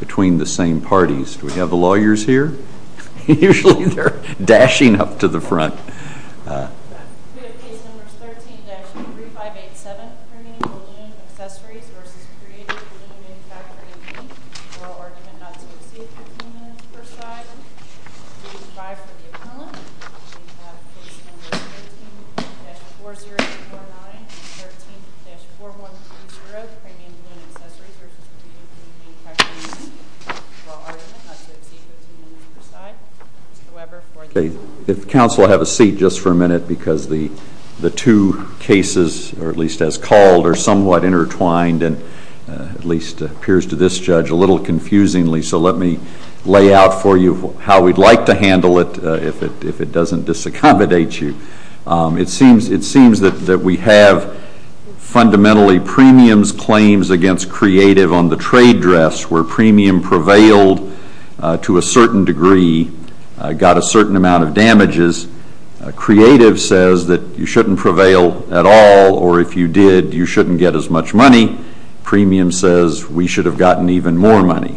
Between the same parties. Do we have the lawyers here? Usually they're dashing up to the front. We have Case No. 13-3587, Premium Balloon Accessories v. Creative Balloons in Category B. Royal Argument not to exceed 15 minutes per side. We have Case No. 13-4049 and 13-4130, Premium Balloon Accessories v. Creative Balloons in Category B. Royal Argument not to exceed 15 minutes per side. Let me lay out for you how we'd like to handle it if it doesn't disaccommodate you. It seems that we have, fundamentally, Premium's claims against Creative on the trade dress, where Premium prevailed to a certain degree, got a certain amount of damages. Creative says that you shouldn't prevail at all, or if you did, you shouldn't get as much money. Premium says we should have gotten even more money.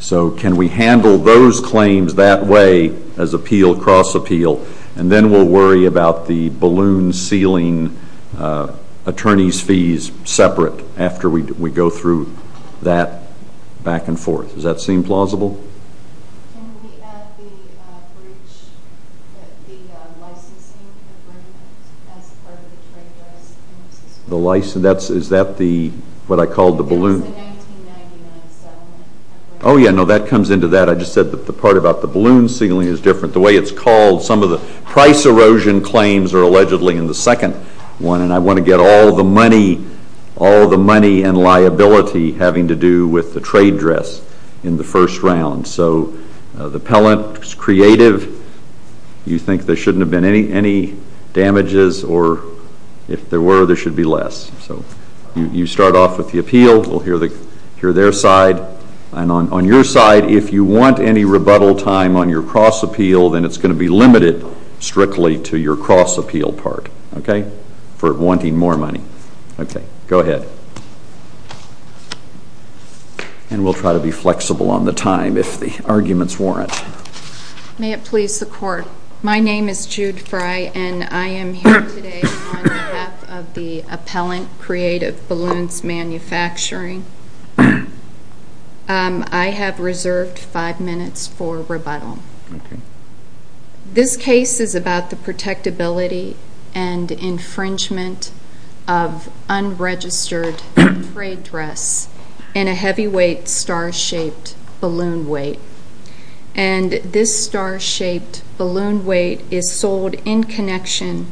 So can we handle those claims that way as appeal, cross appeal, and then we'll worry about the balloon ceiling attorney's fees separate after we go through that back and forth. Does that seem plausible? Can we add the licensing agreement as part of the trade dress? Is that what I called the balloon? Yes, the 1999 settlement agreement. Oh yeah, no, that comes into that. I just said that the part about the balloon ceiling is different. The way it's called, some of the price erosion claims are allegedly in the second one, and I want to get all the money and liability having to do with the trade dress in the first round. So the appellant, Creative, you think there shouldn't have been any damages, or if there were, there should be less. So you start off with the appeal. We'll hear their side. And on your side, if you want any rebuttal time on your cross appeal, then it's going to be limited strictly to your cross appeal part. Okay? For wanting more money. Okay, go ahead. And we'll try to be flexible on the time if the arguments warrant. May it please the Court. My name is Jude Fry, and I am here today on behalf of the appellant, Creative, Balloons Manufacturing. I have reserved five minutes for rebuttal. This case is about the protectability and infringement of unregistered trade dress in a heavyweight star-shaped balloon weight. And this star-shaped balloon weight is sold in connection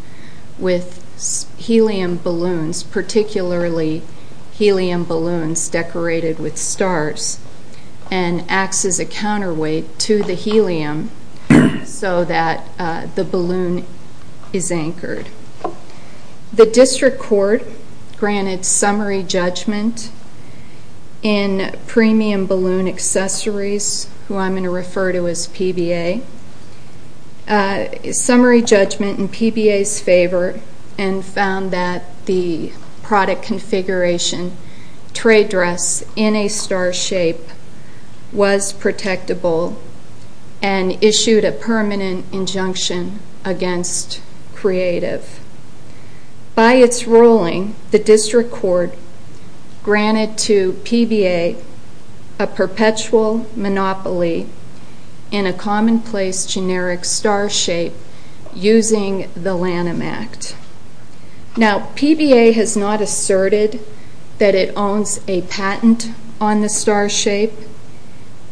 with helium balloons, particularly helium balloons decorated with stars, and acts as a counterweight to the helium so that the balloon is anchored. The District Court granted summary judgment in Premium Balloon Accessories, who I'm going to refer to as PBA. Summary judgment in PBA's favor and found that the product configuration, trade dress in a star shape, was protectable and issued a permanent injunction against Creative. By its ruling, the District Court granted to PBA a perpetual monopoly in a commonplace generic star shape using the Lanham Act. Now, PBA has not asserted that it owns a patent on the star shape,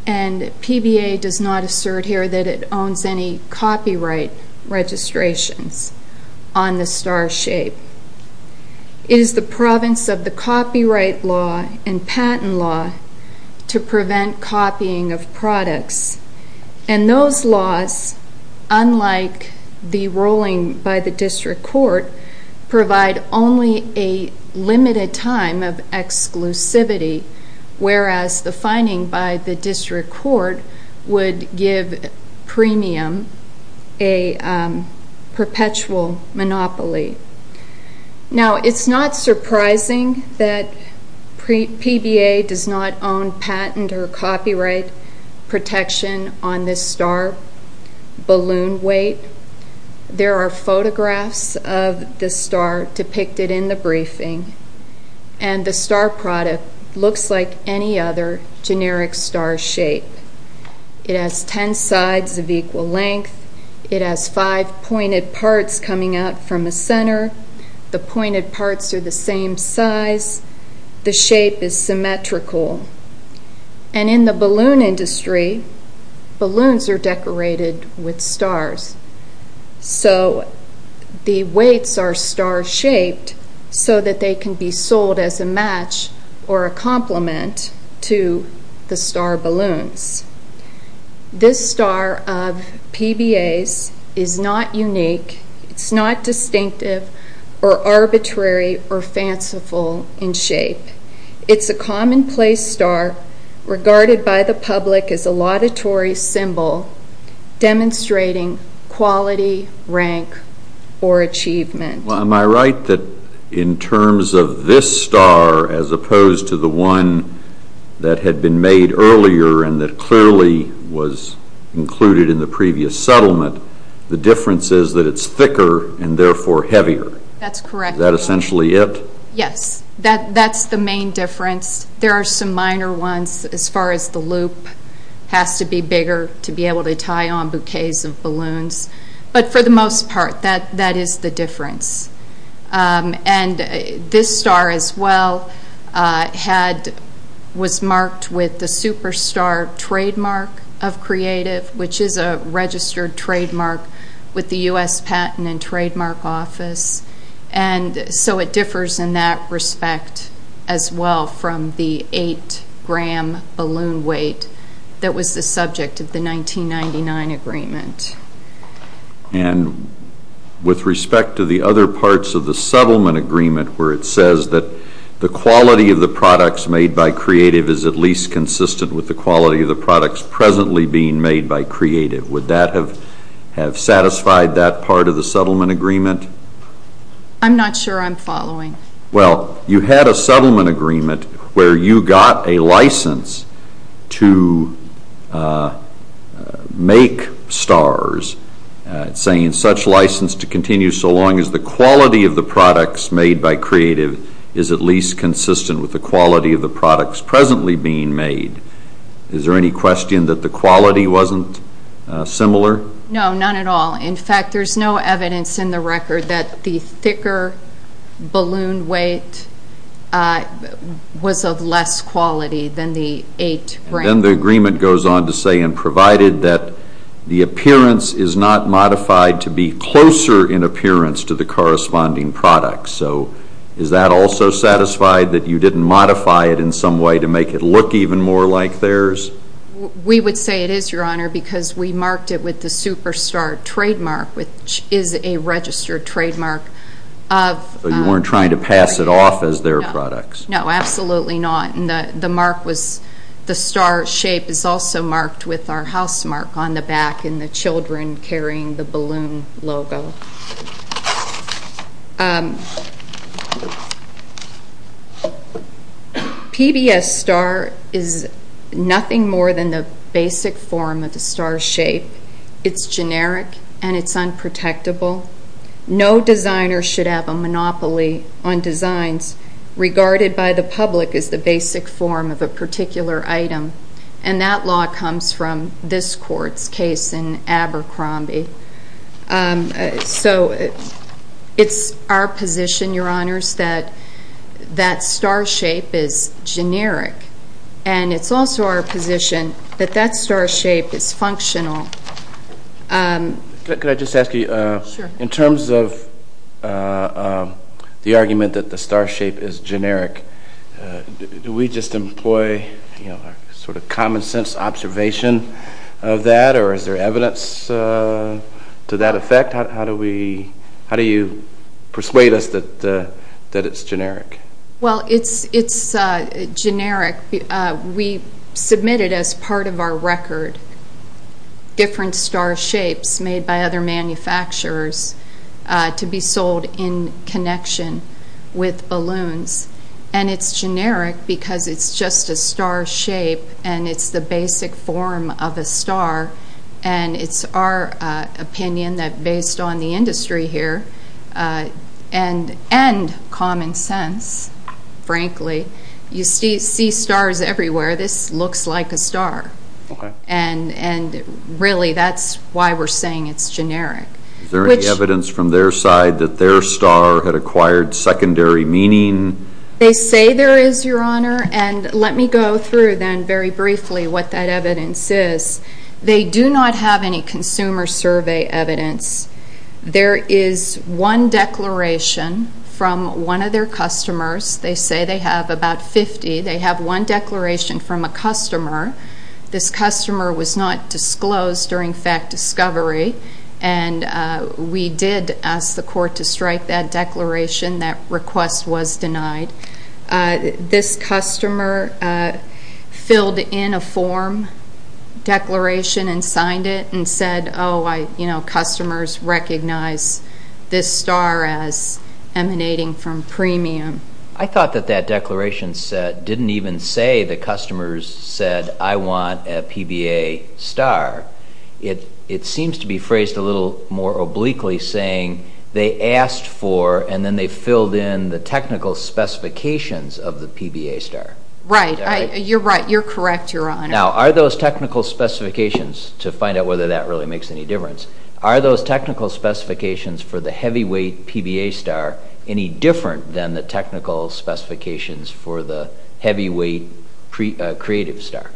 and PBA does not assert here that it owns any copyright registrations on the star shape. It is the province of the copyright law and patent law to prevent copying of products, and those laws, unlike the ruling by the District Court, provide only a limited time of exclusivity, whereas the finding by the District Court would give Premium a perpetual monopoly. Now, it's not surprising that PBA does not own patent or copyright protection on this star balloon weight. There are photographs of this star depicted in the briefing, and the star product looks like any other generic star shape. It has ten sides of equal length. It has five pointed parts coming out from the center. The pointed parts are the same size. The shape is symmetrical. And in the balloon industry, balloons are decorated with stars, so the weights are star shaped so that they can be sold as a match or a complement to the star balloons. This star of PBA's is not unique. It's not distinctive or arbitrary or fanciful in shape. It's a commonplace star regarded by the public as a laudatory symbol demonstrating quality, rank, or achievement. Am I right that in terms of this star as opposed to the one that had been made earlier and that clearly was included in the previous settlement, the difference is that it's thicker and therefore heavier? That's correct. Is that essentially it? Yes. That's the main difference. There are some minor ones as far as the loop has to be bigger to be able to tie on bouquets of balloons. But for the most part, that is the difference. This star as well was marked with the Superstar Trademark of Creative, which is a registered trademark with the U.S. Patent and Trademark Office. So it differs in that respect as well from the 8-gram balloon weight that was the subject of the 1999 agreement. With respect to the other parts of the settlement agreement where it says that the quality of the products made by Creative is at least consistent with the quality of the products presently being made by Creative, would that have satisfied that part of the settlement agreement? I'm not sure I'm following. Well, you had a settlement agreement where you got a license to make stars, saying such license to continue so long as the quality of the products made by Creative is at least consistent with the quality of the products presently being made. Is there any question that the quality wasn't similar? No, none at all. In fact, there's no evidence in the record that the thicker balloon weight was of less quality than the 8-gram. Then the agreement goes on to say, and provided that the appearance is not modified to be closer in appearance to the corresponding product. So is that also satisfied that you didn't modify it in some way to make it look even more like theirs? We would say it is, Your Honor, because we marked it with the superstar trademark, which is a registered trademark of Creative. So you weren't trying to pass it off as their products? No, absolutely not. The star shape is also marked with our house mark on the back, and the children carrying the balloon logo. PBS Star is nothing more than the basic form of the star shape. It's generic, and it's unprotectable. No designer should have a monopoly on designs regarded by the public as the basic form of a particular item, and that law comes from this Court's case in Abercrombie. So it's our position, Your Honors, that that star shape is generic, and it's also our position that that star shape is functional. Could I just ask you, in terms of the argument that the star shape is generic, do we just employ a sort of common sense observation of that, or is there evidence to that effect? How do you persuade us that it's generic? Well, it's generic. We submitted as part of our record different star shapes made by other manufacturers to be sold in connection with balloons, and it's generic because it's just a star shape, and it's the basic form of a star, and it's our opinion that based on the industry here and common sense, frankly, you see stars everywhere. This looks like a star, and really that's why we're saying it's generic. Is there any evidence from their side that their star had acquired secondary meaning? They say there is, Your Honor, and let me go through then very briefly what that evidence is. They do not have any consumer survey evidence. There is one declaration from one of their customers. They say they have about 50. They have one declaration from a customer. This customer was not disclosed during fact discovery, and we did ask the court to strike that declaration. That request was denied. This customer filled in a form declaration and signed it and said, customers recognize this star as emanating from premium. I thought that that declaration didn't even say the customers said I want a PBA star. It seems to be phrased a little more obliquely saying they asked for and then they filled in the technical specifications of the PBA star. Right. You're right. You're correct, Your Honor. Now, are those technical specifications, to find out whether that really makes any difference, are those technical specifications for the heavyweight PBA star any different than the technical specifications for the heavyweight creative star?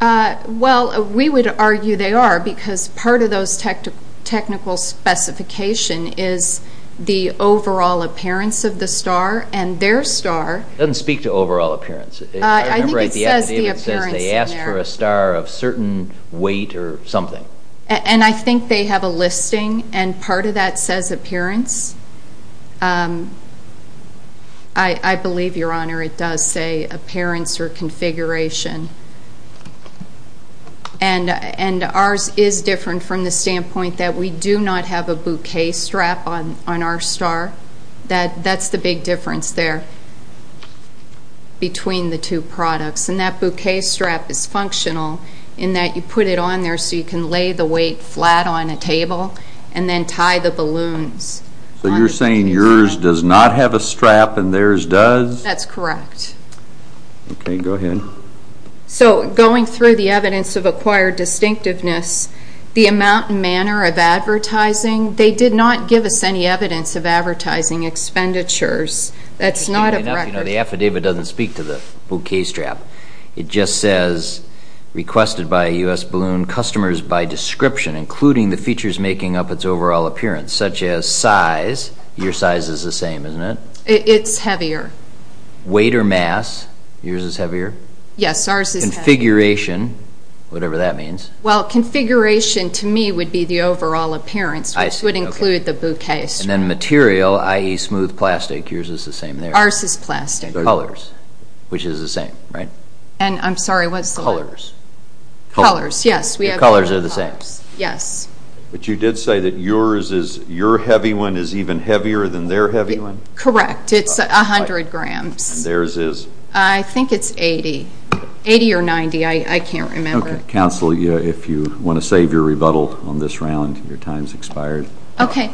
Well, we would argue they are because part of those technical specifications is the overall appearance of the star and their star. It doesn't speak to overall appearance. I think it says the appearance in there. It says they asked for a star of certain weight or something. And I think they have a listing, and part of that says appearance. I believe, Your Honor, it does say appearance or configuration. And ours is different from the standpoint that we do not have a bouquet strap on our star. That's the big difference there between the two products. And that bouquet strap is functional in that you put it on there so you can lay the weight flat on a table and then tie the balloons. So you're saying yours does not have a strap and theirs does? That's correct. Okay, go ahead. So going through the evidence of acquired distinctiveness, the amount and manner of advertising, they did not give us any evidence of advertising expenditures. That's not a record. The affidavit doesn't speak to the bouquet strap. It just says requested by U.S. Balloon customers by description, including the features making up its overall appearance, such as size. Your size is the same, isn't it? It's heavier. Weight or mass? Yours is heavier? Yes, ours is heavier. Configuration, whatever that means. Well, configuration to me would be the overall appearance, which would include the bouquet strap. And then material, i.e., smooth plastic, yours is the same there? Ours is plastic. Colors, which is the same, right? And I'm sorry, what's the weight? Colors. Colors, yes. Colors are the same? Yes. But you did say that yours is your heavy one is even heavier than their heavy one? Correct. It's 100 grams. And theirs is? I think it's 80. 80 or 90, I can't remember. Okay. Counsel, if you want to save your rebuttal on this round, your time's expired. Okay.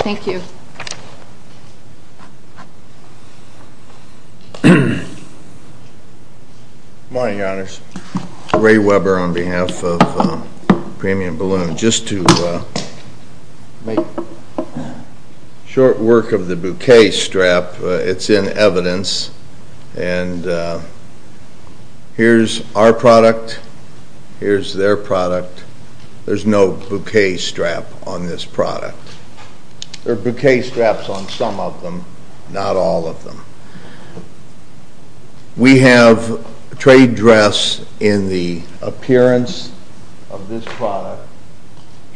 Thank you. Good morning, Your Honors. Ray Weber on behalf of Premium Balloon. Just to make short work of the bouquet strap, it's in evidence. And here's our product. Here's their product. There's no bouquet strap on this product. There are bouquet straps on some of them, not all of them. We have trade dress in the appearance of this product,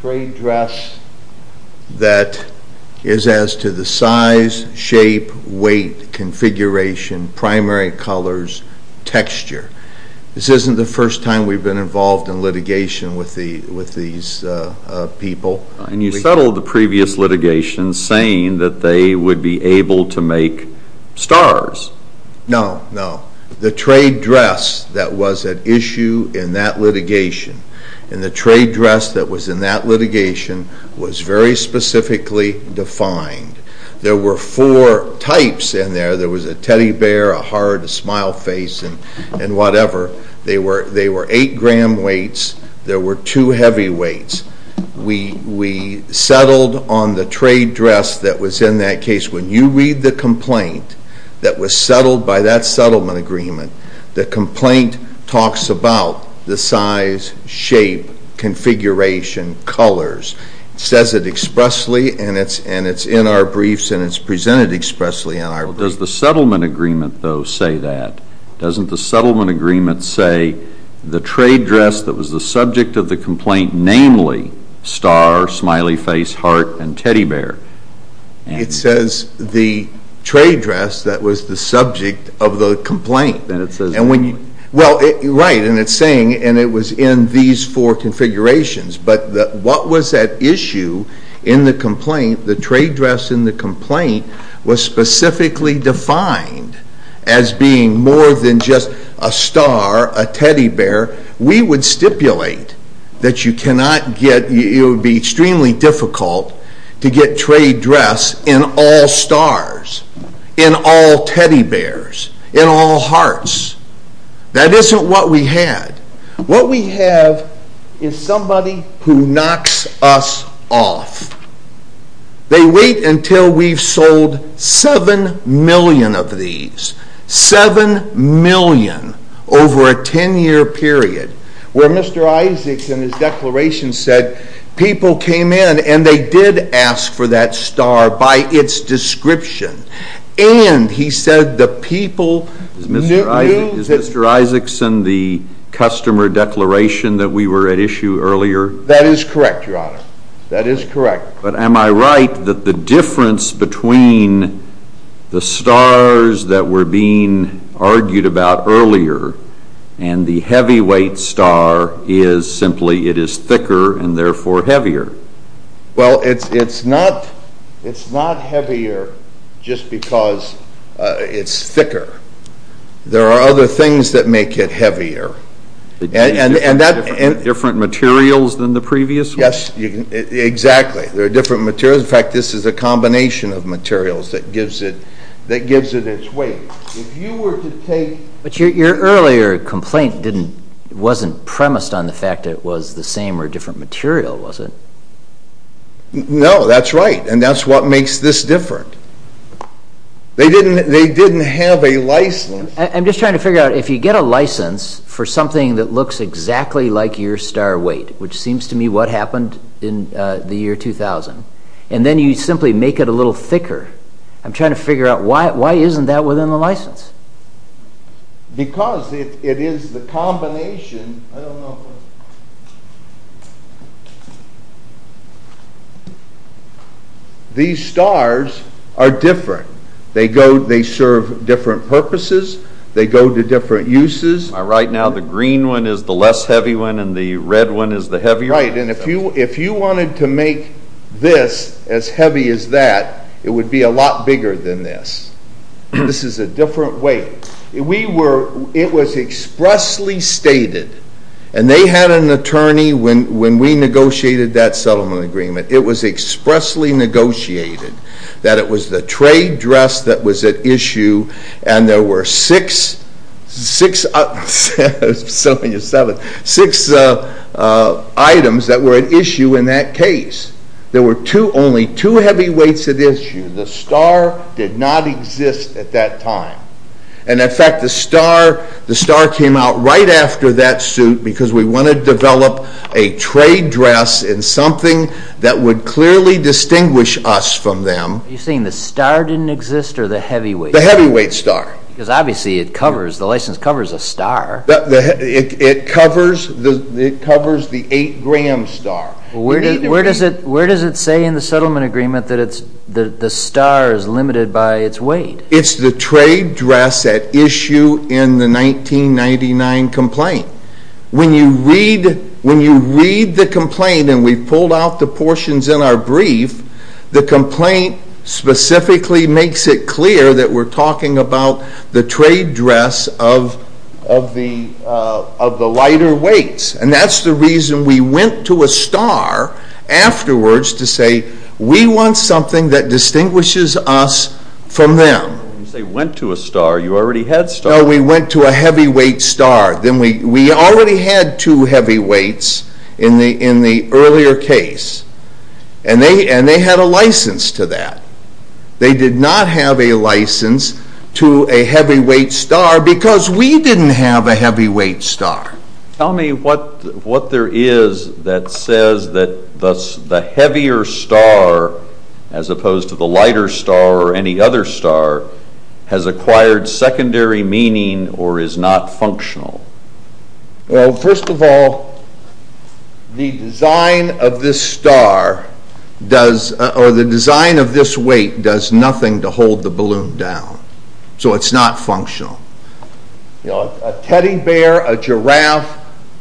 trade dress that is as to the size, shape, weight, configuration, primary colors, texture. This isn't the first time we've been involved in litigation with these people. And you settled the previous litigation saying that they would be able to make stars. No, no. The trade dress that was at issue in that litigation and the trade dress that was in that litigation was very specifically defined. There were four types in there. There was a teddy bear, a heart, a smile face, and whatever. They were eight-gram weights. There were two heavy weights. We settled on the trade dress that was in that case. When you read the complaint that was settled by that settlement agreement, the complaint talks about the size, shape, configuration, colors. It says it expressly, and it's in our briefs, and it's presented expressly in our briefs. Well, does the settlement agreement, though, say that? Doesn't the settlement agreement say the trade dress that was the subject of the complaint, namely star, smiley face, heart, and teddy bear? It says the trade dress that was the subject of the complaint. Then it says the complaint. Well, right, and it's saying, and it was in these four configurations. But what was at issue in the complaint, the trade dress in the complaint, was specifically defined as being more than just a star, a teddy bear. We would stipulate that it would be extremely difficult to get trade dress in all stars, in all teddy bears, in all hearts. That isn't what we had. What we have is somebody who knocks us off. They wait until we've sold 7 million of these, 7 million over a 10-year period, where Mr. Isaacson, his declaration said, people came in and they did ask for that star by its description, and he said the people knew that. Is Mr. Isaacson the customer declaration that we were at issue earlier? That is correct, Your Honor. That is correct. But am I right that the difference between the stars that were being argued about earlier and the heavyweight star is simply it is thicker and therefore heavier? Well, it's not heavier just because it's thicker. There are other things that make it heavier. Different materials than the previous one? Yes, exactly. There are different materials. In fact, this is a combination of materials that gives it its weight. But your earlier complaint wasn't premised on the fact that it was the same or different material, was it? No, that's right, and that's what makes this different. They didn't have a license. I'm just trying to figure out, if you get a license for something that looks exactly like your star weight, which seems to me what happened in the year 2000, and then you simply make it a little thicker, I'm trying to figure out why isn't that within the license? Because it is the combination. These stars are different. They serve different purposes. They go to different uses. Right now the green one is the less heavy one and the red one is the heavier one. Right, and if you wanted to make this as heavy as that, it would be a lot bigger than this. This is a different weight. It was expressly stated, and they had an attorney when we negotiated that settlement agreement, it was expressly negotiated that it was the trade dress that was at issue and there were six items that were at issue in that case. There were only two heavy weights at issue. The star did not exist at that time, and in fact the star came out right after that suit because we wanted to develop a trade dress in something that would clearly distinguish us from them. You're saying the star didn't exist or the heavy weight? The heavy weight star. Because obviously the license covers a star. It covers the 8-gram star. Where does it say in the settlement agreement that the star is limited by its weight? It's the trade dress at issue in the 1999 complaint. When you read the complaint, and we've pulled out the portions in our brief, the complaint specifically makes it clear that we're talking about the trade dress of the lighter weights, and that's the reason we went to a star afterwards to say we want something that distinguishes us from them. You say went to a star, you already had stars. No, we went to a heavy weight star. We already had two heavy weights in the earlier case, and they had a license to that. They did not have a license to a heavy weight star because we didn't have a heavy weight star. Tell me what there is that says that the heavier star, as opposed to the lighter star or any other star, has acquired secondary meaning or is not functional. Well, first of all, the design of this star, or the design of this weight, does nothing to hold the balloon down. So it's not functional. A teddy bear, a giraffe,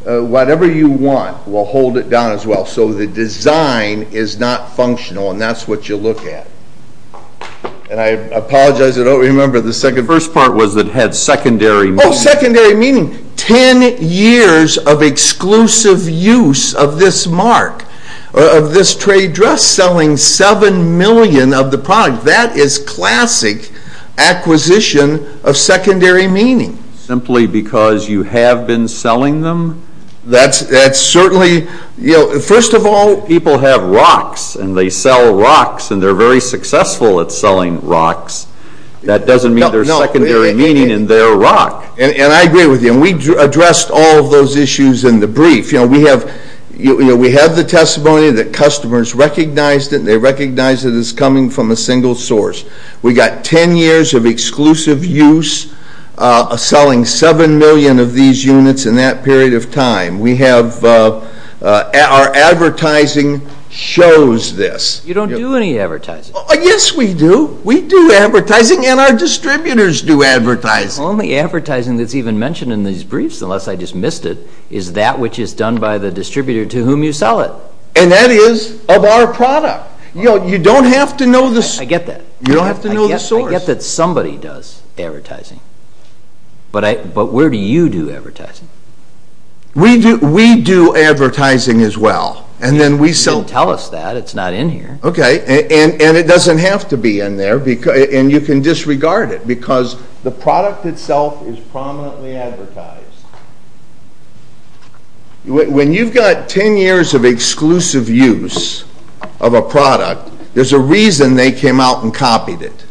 whatever you want will hold it down as well. So the design is not functional, and that's what you look at. And I apologize, I don't remember the second part. The first part was that it had secondary meaning. Oh, secondary meaning. Ten years of exclusive use of this mark, of this trade dress, selling 7 million of the product. That is classic acquisition of secondary meaning. Simply because you have been selling them? That's certainly, you know, first of all, people have rocks, and they sell rocks, and they're very successful at selling rocks. That doesn't mean there's secondary meaning in their rock. And I agree with you, and we addressed all of those issues in the brief. You know, we have the testimony that customers recognized it, and they recognized it as coming from a single source. We got ten years of exclusive use, selling 7 million of these units in that period of time. We have, our advertising shows this. You don't do any advertising. Yes, we do. We do advertising, and our distributors do advertising. The only advertising that's even mentioned in these briefs, unless I just missed it, is that which is done by the distributor to whom you sell it. And that is of our product. You don't have to know this. I get that. You don't have to know the source. I get that somebody does advertising. But where do you do advertising? We do advertising as well. You didn't tell us that. It's not in here. Okay, and it doesn't have to be in there, and you can disregard it, because the product itself is prominently advertised. When you've got ten years of exclusive use of a product, there's a reason they came out and copied it.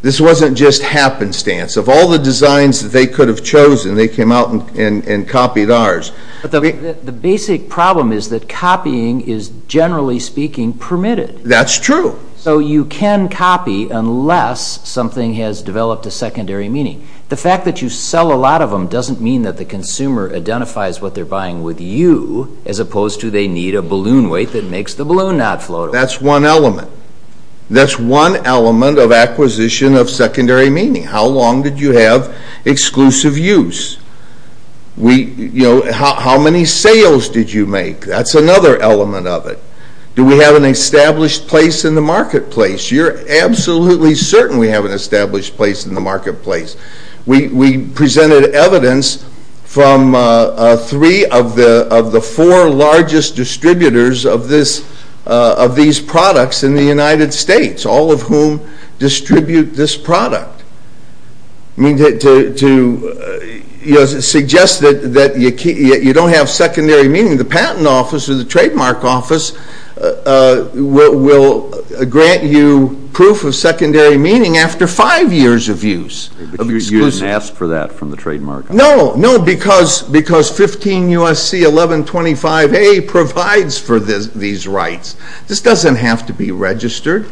This wasn't just happenstance. Of all the designs that they could have chosen, they came out and copied ours. The basic problem is that copying is, generally speaking, permitted. That's true. So you can copy unless something has developed a secondary meaning. The fact that you sell a lot of them doesn't mean that the consumer identifies what they're buying with you, as opposed to they need a balloon weight that makes the balloon not float. That's one element. That's one element of acquisition of secondary meaning. How long did you have exclusive use? How many sales did you make? That's another element of it. Do we have an established place in the marketplace? You're absolutely certain we have an established place in the marketplace. We presented evidence from three of the four largest distributors of these products in the United States, all of whom distribute this product. To suggest that you don't have secondary meaning, the patent office or the trademark office will grant you proof of secondary meaning after five years of use. You didn't ask for that from the trademark office? No, because 15 U.S.C. 1125A provides for these rights. This doesn't have to be registered.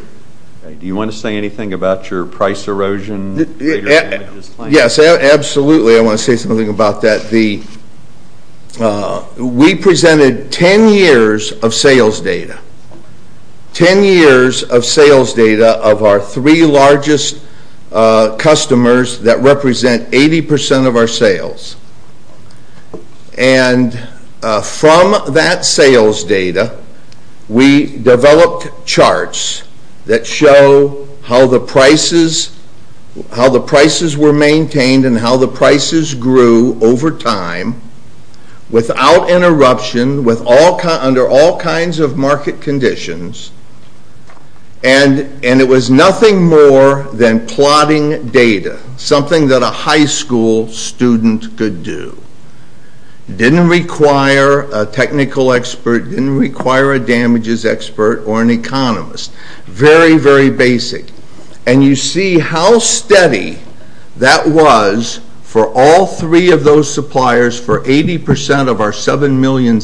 Do you want to say anything about your price erosion? Yes, absolutely. I want to say something about that. We presented 10 years of sales data, 10 years of sales data of our three largest customers that represent 80% of our sales. From that sales data, we developed charts that show how the prices were maintained and how the prices grew over time without interruption under all kinds of market conditions. It was nothing more than plotting data, something that a high school student could do. It didn't require a technical expert. It didn't require a damages expert or an economist. Very, very basic. You see how steady that was for all three of those suppliers for 80% of our 7 million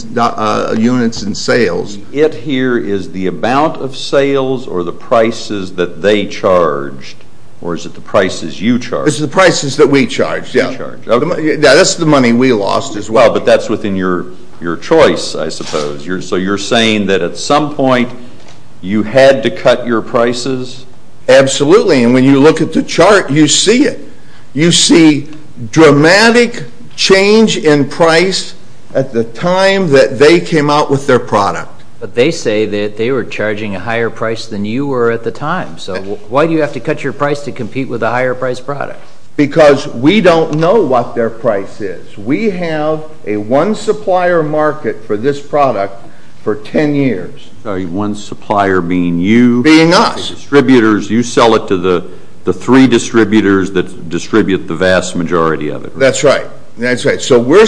units in sales. It here is the amount of sales or the prices that they charged, or is it the prices you charged? It's the prices that we charged. That's the money we lost as well. But that's within your choice, I suppose. So you're saying that at some point you had to cut your prices? Absolutely. And when you look at the chart, you see it. You see dramatic change in price at the time that they came out with their product. But they say that they were charging a higher price than you were at the time. So why do you have to cut your price to compete with a higher price product? Because we don't know what their price is. We have a one supplier market for this product for 10 years. One supplier being you? Being us. You sell it to the three distributors that distribute the vast majority of it, right? That's right. So we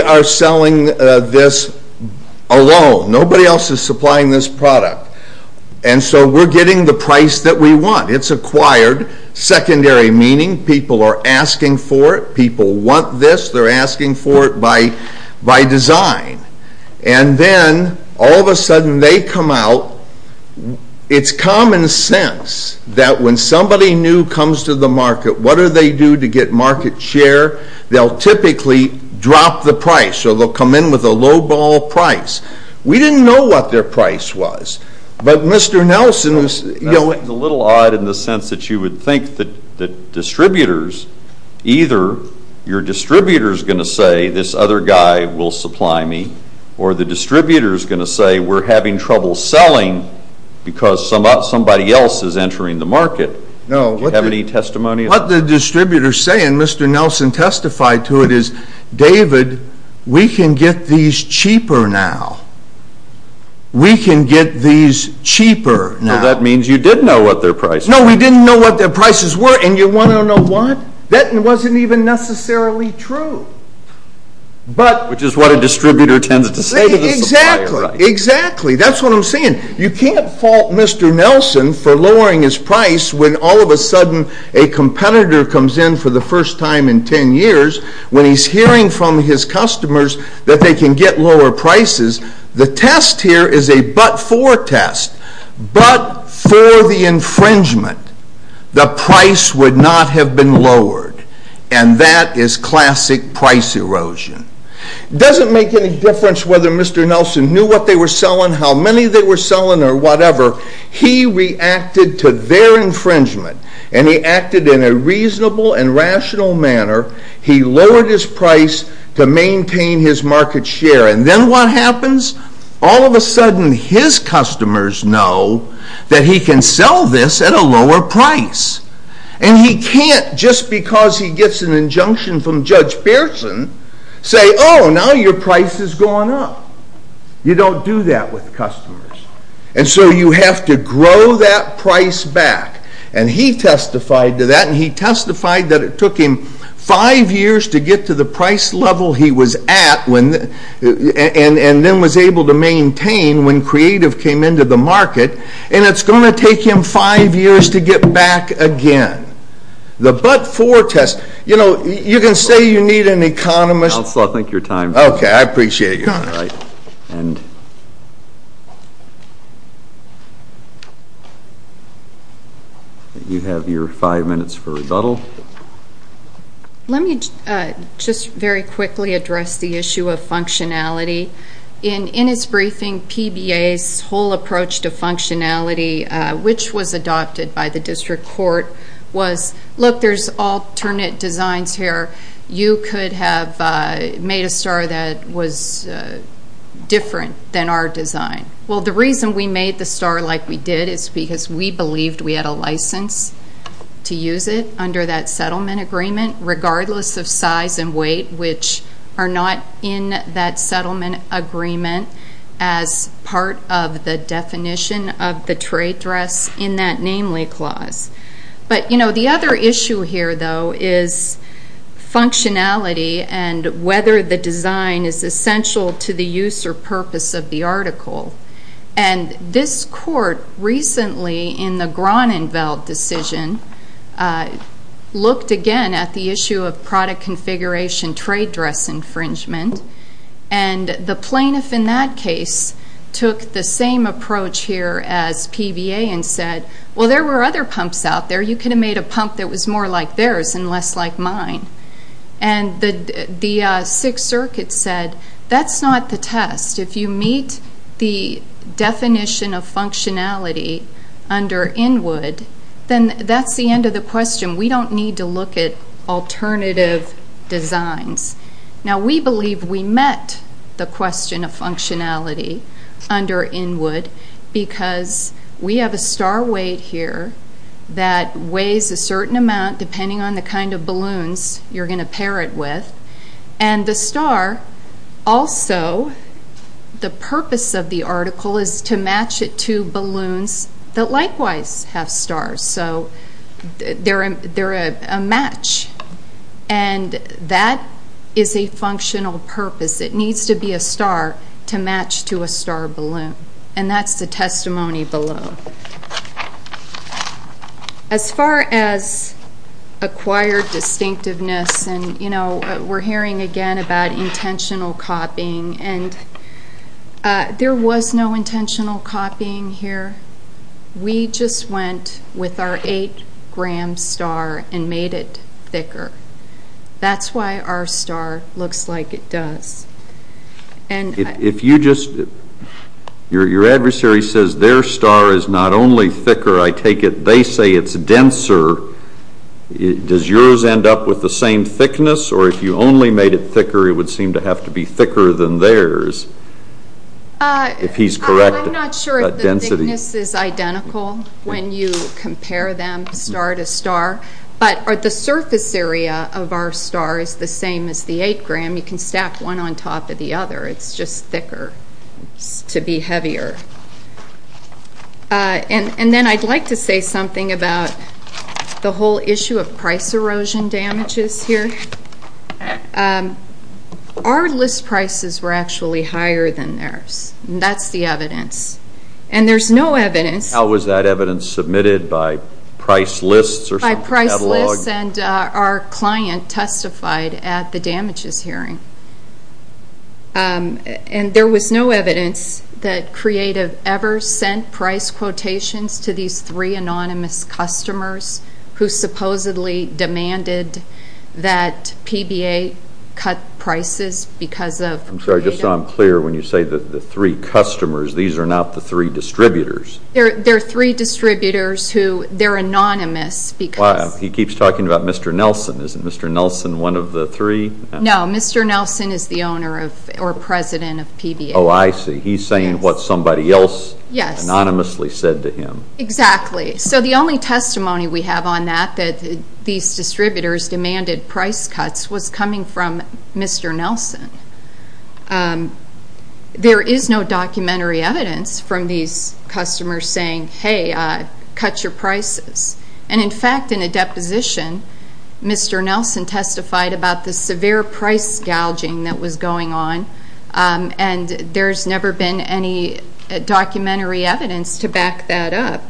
are selling this alone. Nobody else is supplying this product. And so we're getting the price that we want. It's acquired, secondary meaning. People are asking for it. People want this. They're asking for it by design. And then, all of a sudden, they come out. It's common sense that when somebody new comes to the market, what do they do to get market share? They'll typically drop the price. So they'll come in with a lowball price. We didn't know what their price was. But Mr. Nelson, you know what? That's a little odd in the sense that you would think that distributors, either your distributor is going to say this other guy will supply me or the distributor is going to say we're having trouble selling because somebody else is entering the market. Do you have any testimony of that? What the distributor is saying, Mr. Nelson testified to it, is, David, we can get these cheaper now. We can get these cheaper now. Well, that means you did know what their price was. No, we didn't know what their prices were. And you want to know what? That wasn't even necessarily true. Which is what a distributor tends to say to the supplier, right? Exactly. That's what I'm saying. You can't fault Mr. Nelson for lowering his price when all of a sudden a competitor comes in for the first time in 10 years when he's hearing from his customers that they can get lower prices. The test here is a but-for test. But for the infringement, the price would not have been lowered. And that is classic price erosion. It doesn't make any difference whether Mr. Nelson knew what they were selling, how many they were selling, or whatever. He reacted to their infringement, and he acted in a reasonable and rational manner. He lowered his price to maintain his market share. And then what happens? All of a sudden his customers know that he can sell this at a lower price. And he can't, just because he gets an injunction from Judge Pearson, say, Oh, now your price has gone up. You don't do that with customers. And so you have to grow that price back. And he testified to that, and he testified that it took him five years to get to the price level he was at and then was able to maintain when creative came into the market, and it's going to take him five years to get back again. The but-for test, you know, you can say you need an economist. Counselor, I think your time is up. Okay, I appreciate you. All right. You have your five minutes for rebuttal. Let me just very quickly address the issue of functionality. In his briefing, PBA's whole approach to functionality, which was adopted by the district court, was, Look, there's alternate designs here. You could have made a star that was different than our design. Well, the reason we made the star like we did is because we believed we had a license to use it under that settlement agreement, regardless of size and weight, which are not in that settlement agreement as part of the definition of the trade dress in that namely clause. But, you know, the other issue here, though, is functionality and whether the design is essential to the use or purpose of the article. And this court recently, in the Gronenfeld decision, looked again at the issue of product configuration trade dress infringement. And the plaintiff in that case took the same approach here as PBA and said, Well, there were other pumps out there. You could have made a pump that was more like theirs and less like mine. And the Sixth Circuit said, That's not the test. If you meet the definition of functionality under Inwood, then that's the end of the question. We don't need to look at alternative designs. Now, we believe we met the question of functionality under Inwood because we have a star weight here that weighs a certain amount, depending on the kind of balloons you're going to pair it with. And the star also, the purpose of the article is to match it to balloons that likewise have stars. So they're a match. And that is a functional purpose. It needs to be a star to match to a star balloon. And that's the testimony below. As far as acquired distinctiveness, and, you know, we're hearing again about intentional copying, and there was no intentional copying here. We just went with our 8-gram star and made it thicker. That's why our star looks like it does. If you just, your adversary says their star is not only thicker, I take it they say it's denser, does yours end up with the same thickness? Or if you only made it thicker, it would seem to have to be thicker than theirs, if he's correct? I'm not sure if the thickness is identical when you compare them star to star. But the surface area of our star is the same as the 8-gram. You can stack one on top of the other. It's just thicker to be heavier. And then I'd like to say something about the whole issue of price erosion damages here. Our list prices were actually higher than theirs, and that's the evidence. And there's no evidence. How was that evidence submitted? By price lists or something? By price lists. And our client testified at the damages hearing. And there was no evidence that Creative ever sent price quotations to these three anonymous customers who supposedly demanded that PBA cut prices because of Creative. I'm sorry, just so I'm clear, when you say the three customers, these are not the three distributors. They're three distributors who, they're anonymous because He keeps talking about Mr. Nelson. Isn't Mr. Nelson one of the three? No, Mr. Nelson is the owner or president of PBA. Oh, I see. He's saying what somebody else anonymously said to him. Exactly. So the only testimony we have on that, that these distributors demanded price cuts, was coming from Mr. Nelson. There is no documentary evidence from these customers saying, hey, cut your prices. And, in fact, in a deposition, Mr. Nelson testified about the severe price gouging that was going on. And there's never been any documentary evidence to back that up.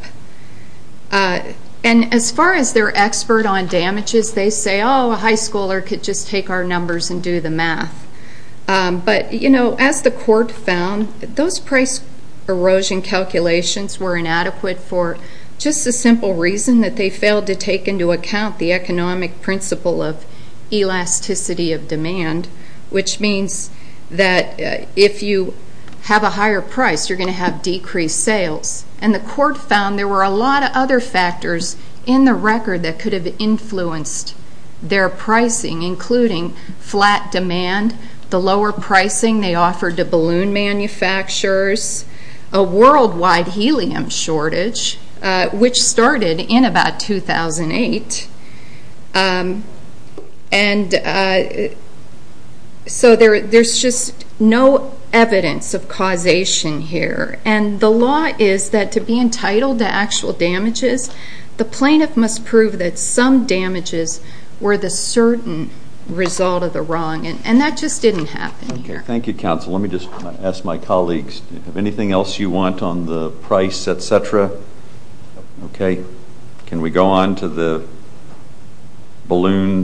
And as far as their expert on damages, they say, oh, a high schooler could just take our numbers and do the math. But, you know, as the court found, those price erosion calculations were inadequate for just a simple reason, that they failed to take into account the economic principle of elasticity of demand, which means that if you have a higher price, you're going to have decreased sales. And the court found there were a lot of other factors in the record that could have influenced their pricing, including flat demand, the lower pricing they offered to balloon manufacturers, a worldwide helium shortage, which started in about 2008. And so there's just no evidence of causation here. And the law is that to be entitled to actual damages, the plaintiff must prove that some damages were the certain result of the wrong. And that just didn't happen here. Thank you, counsel. Let me just ask my colleagues, do you have anything else you want on the price, et cetera? Okay. Can we go on to the balloons?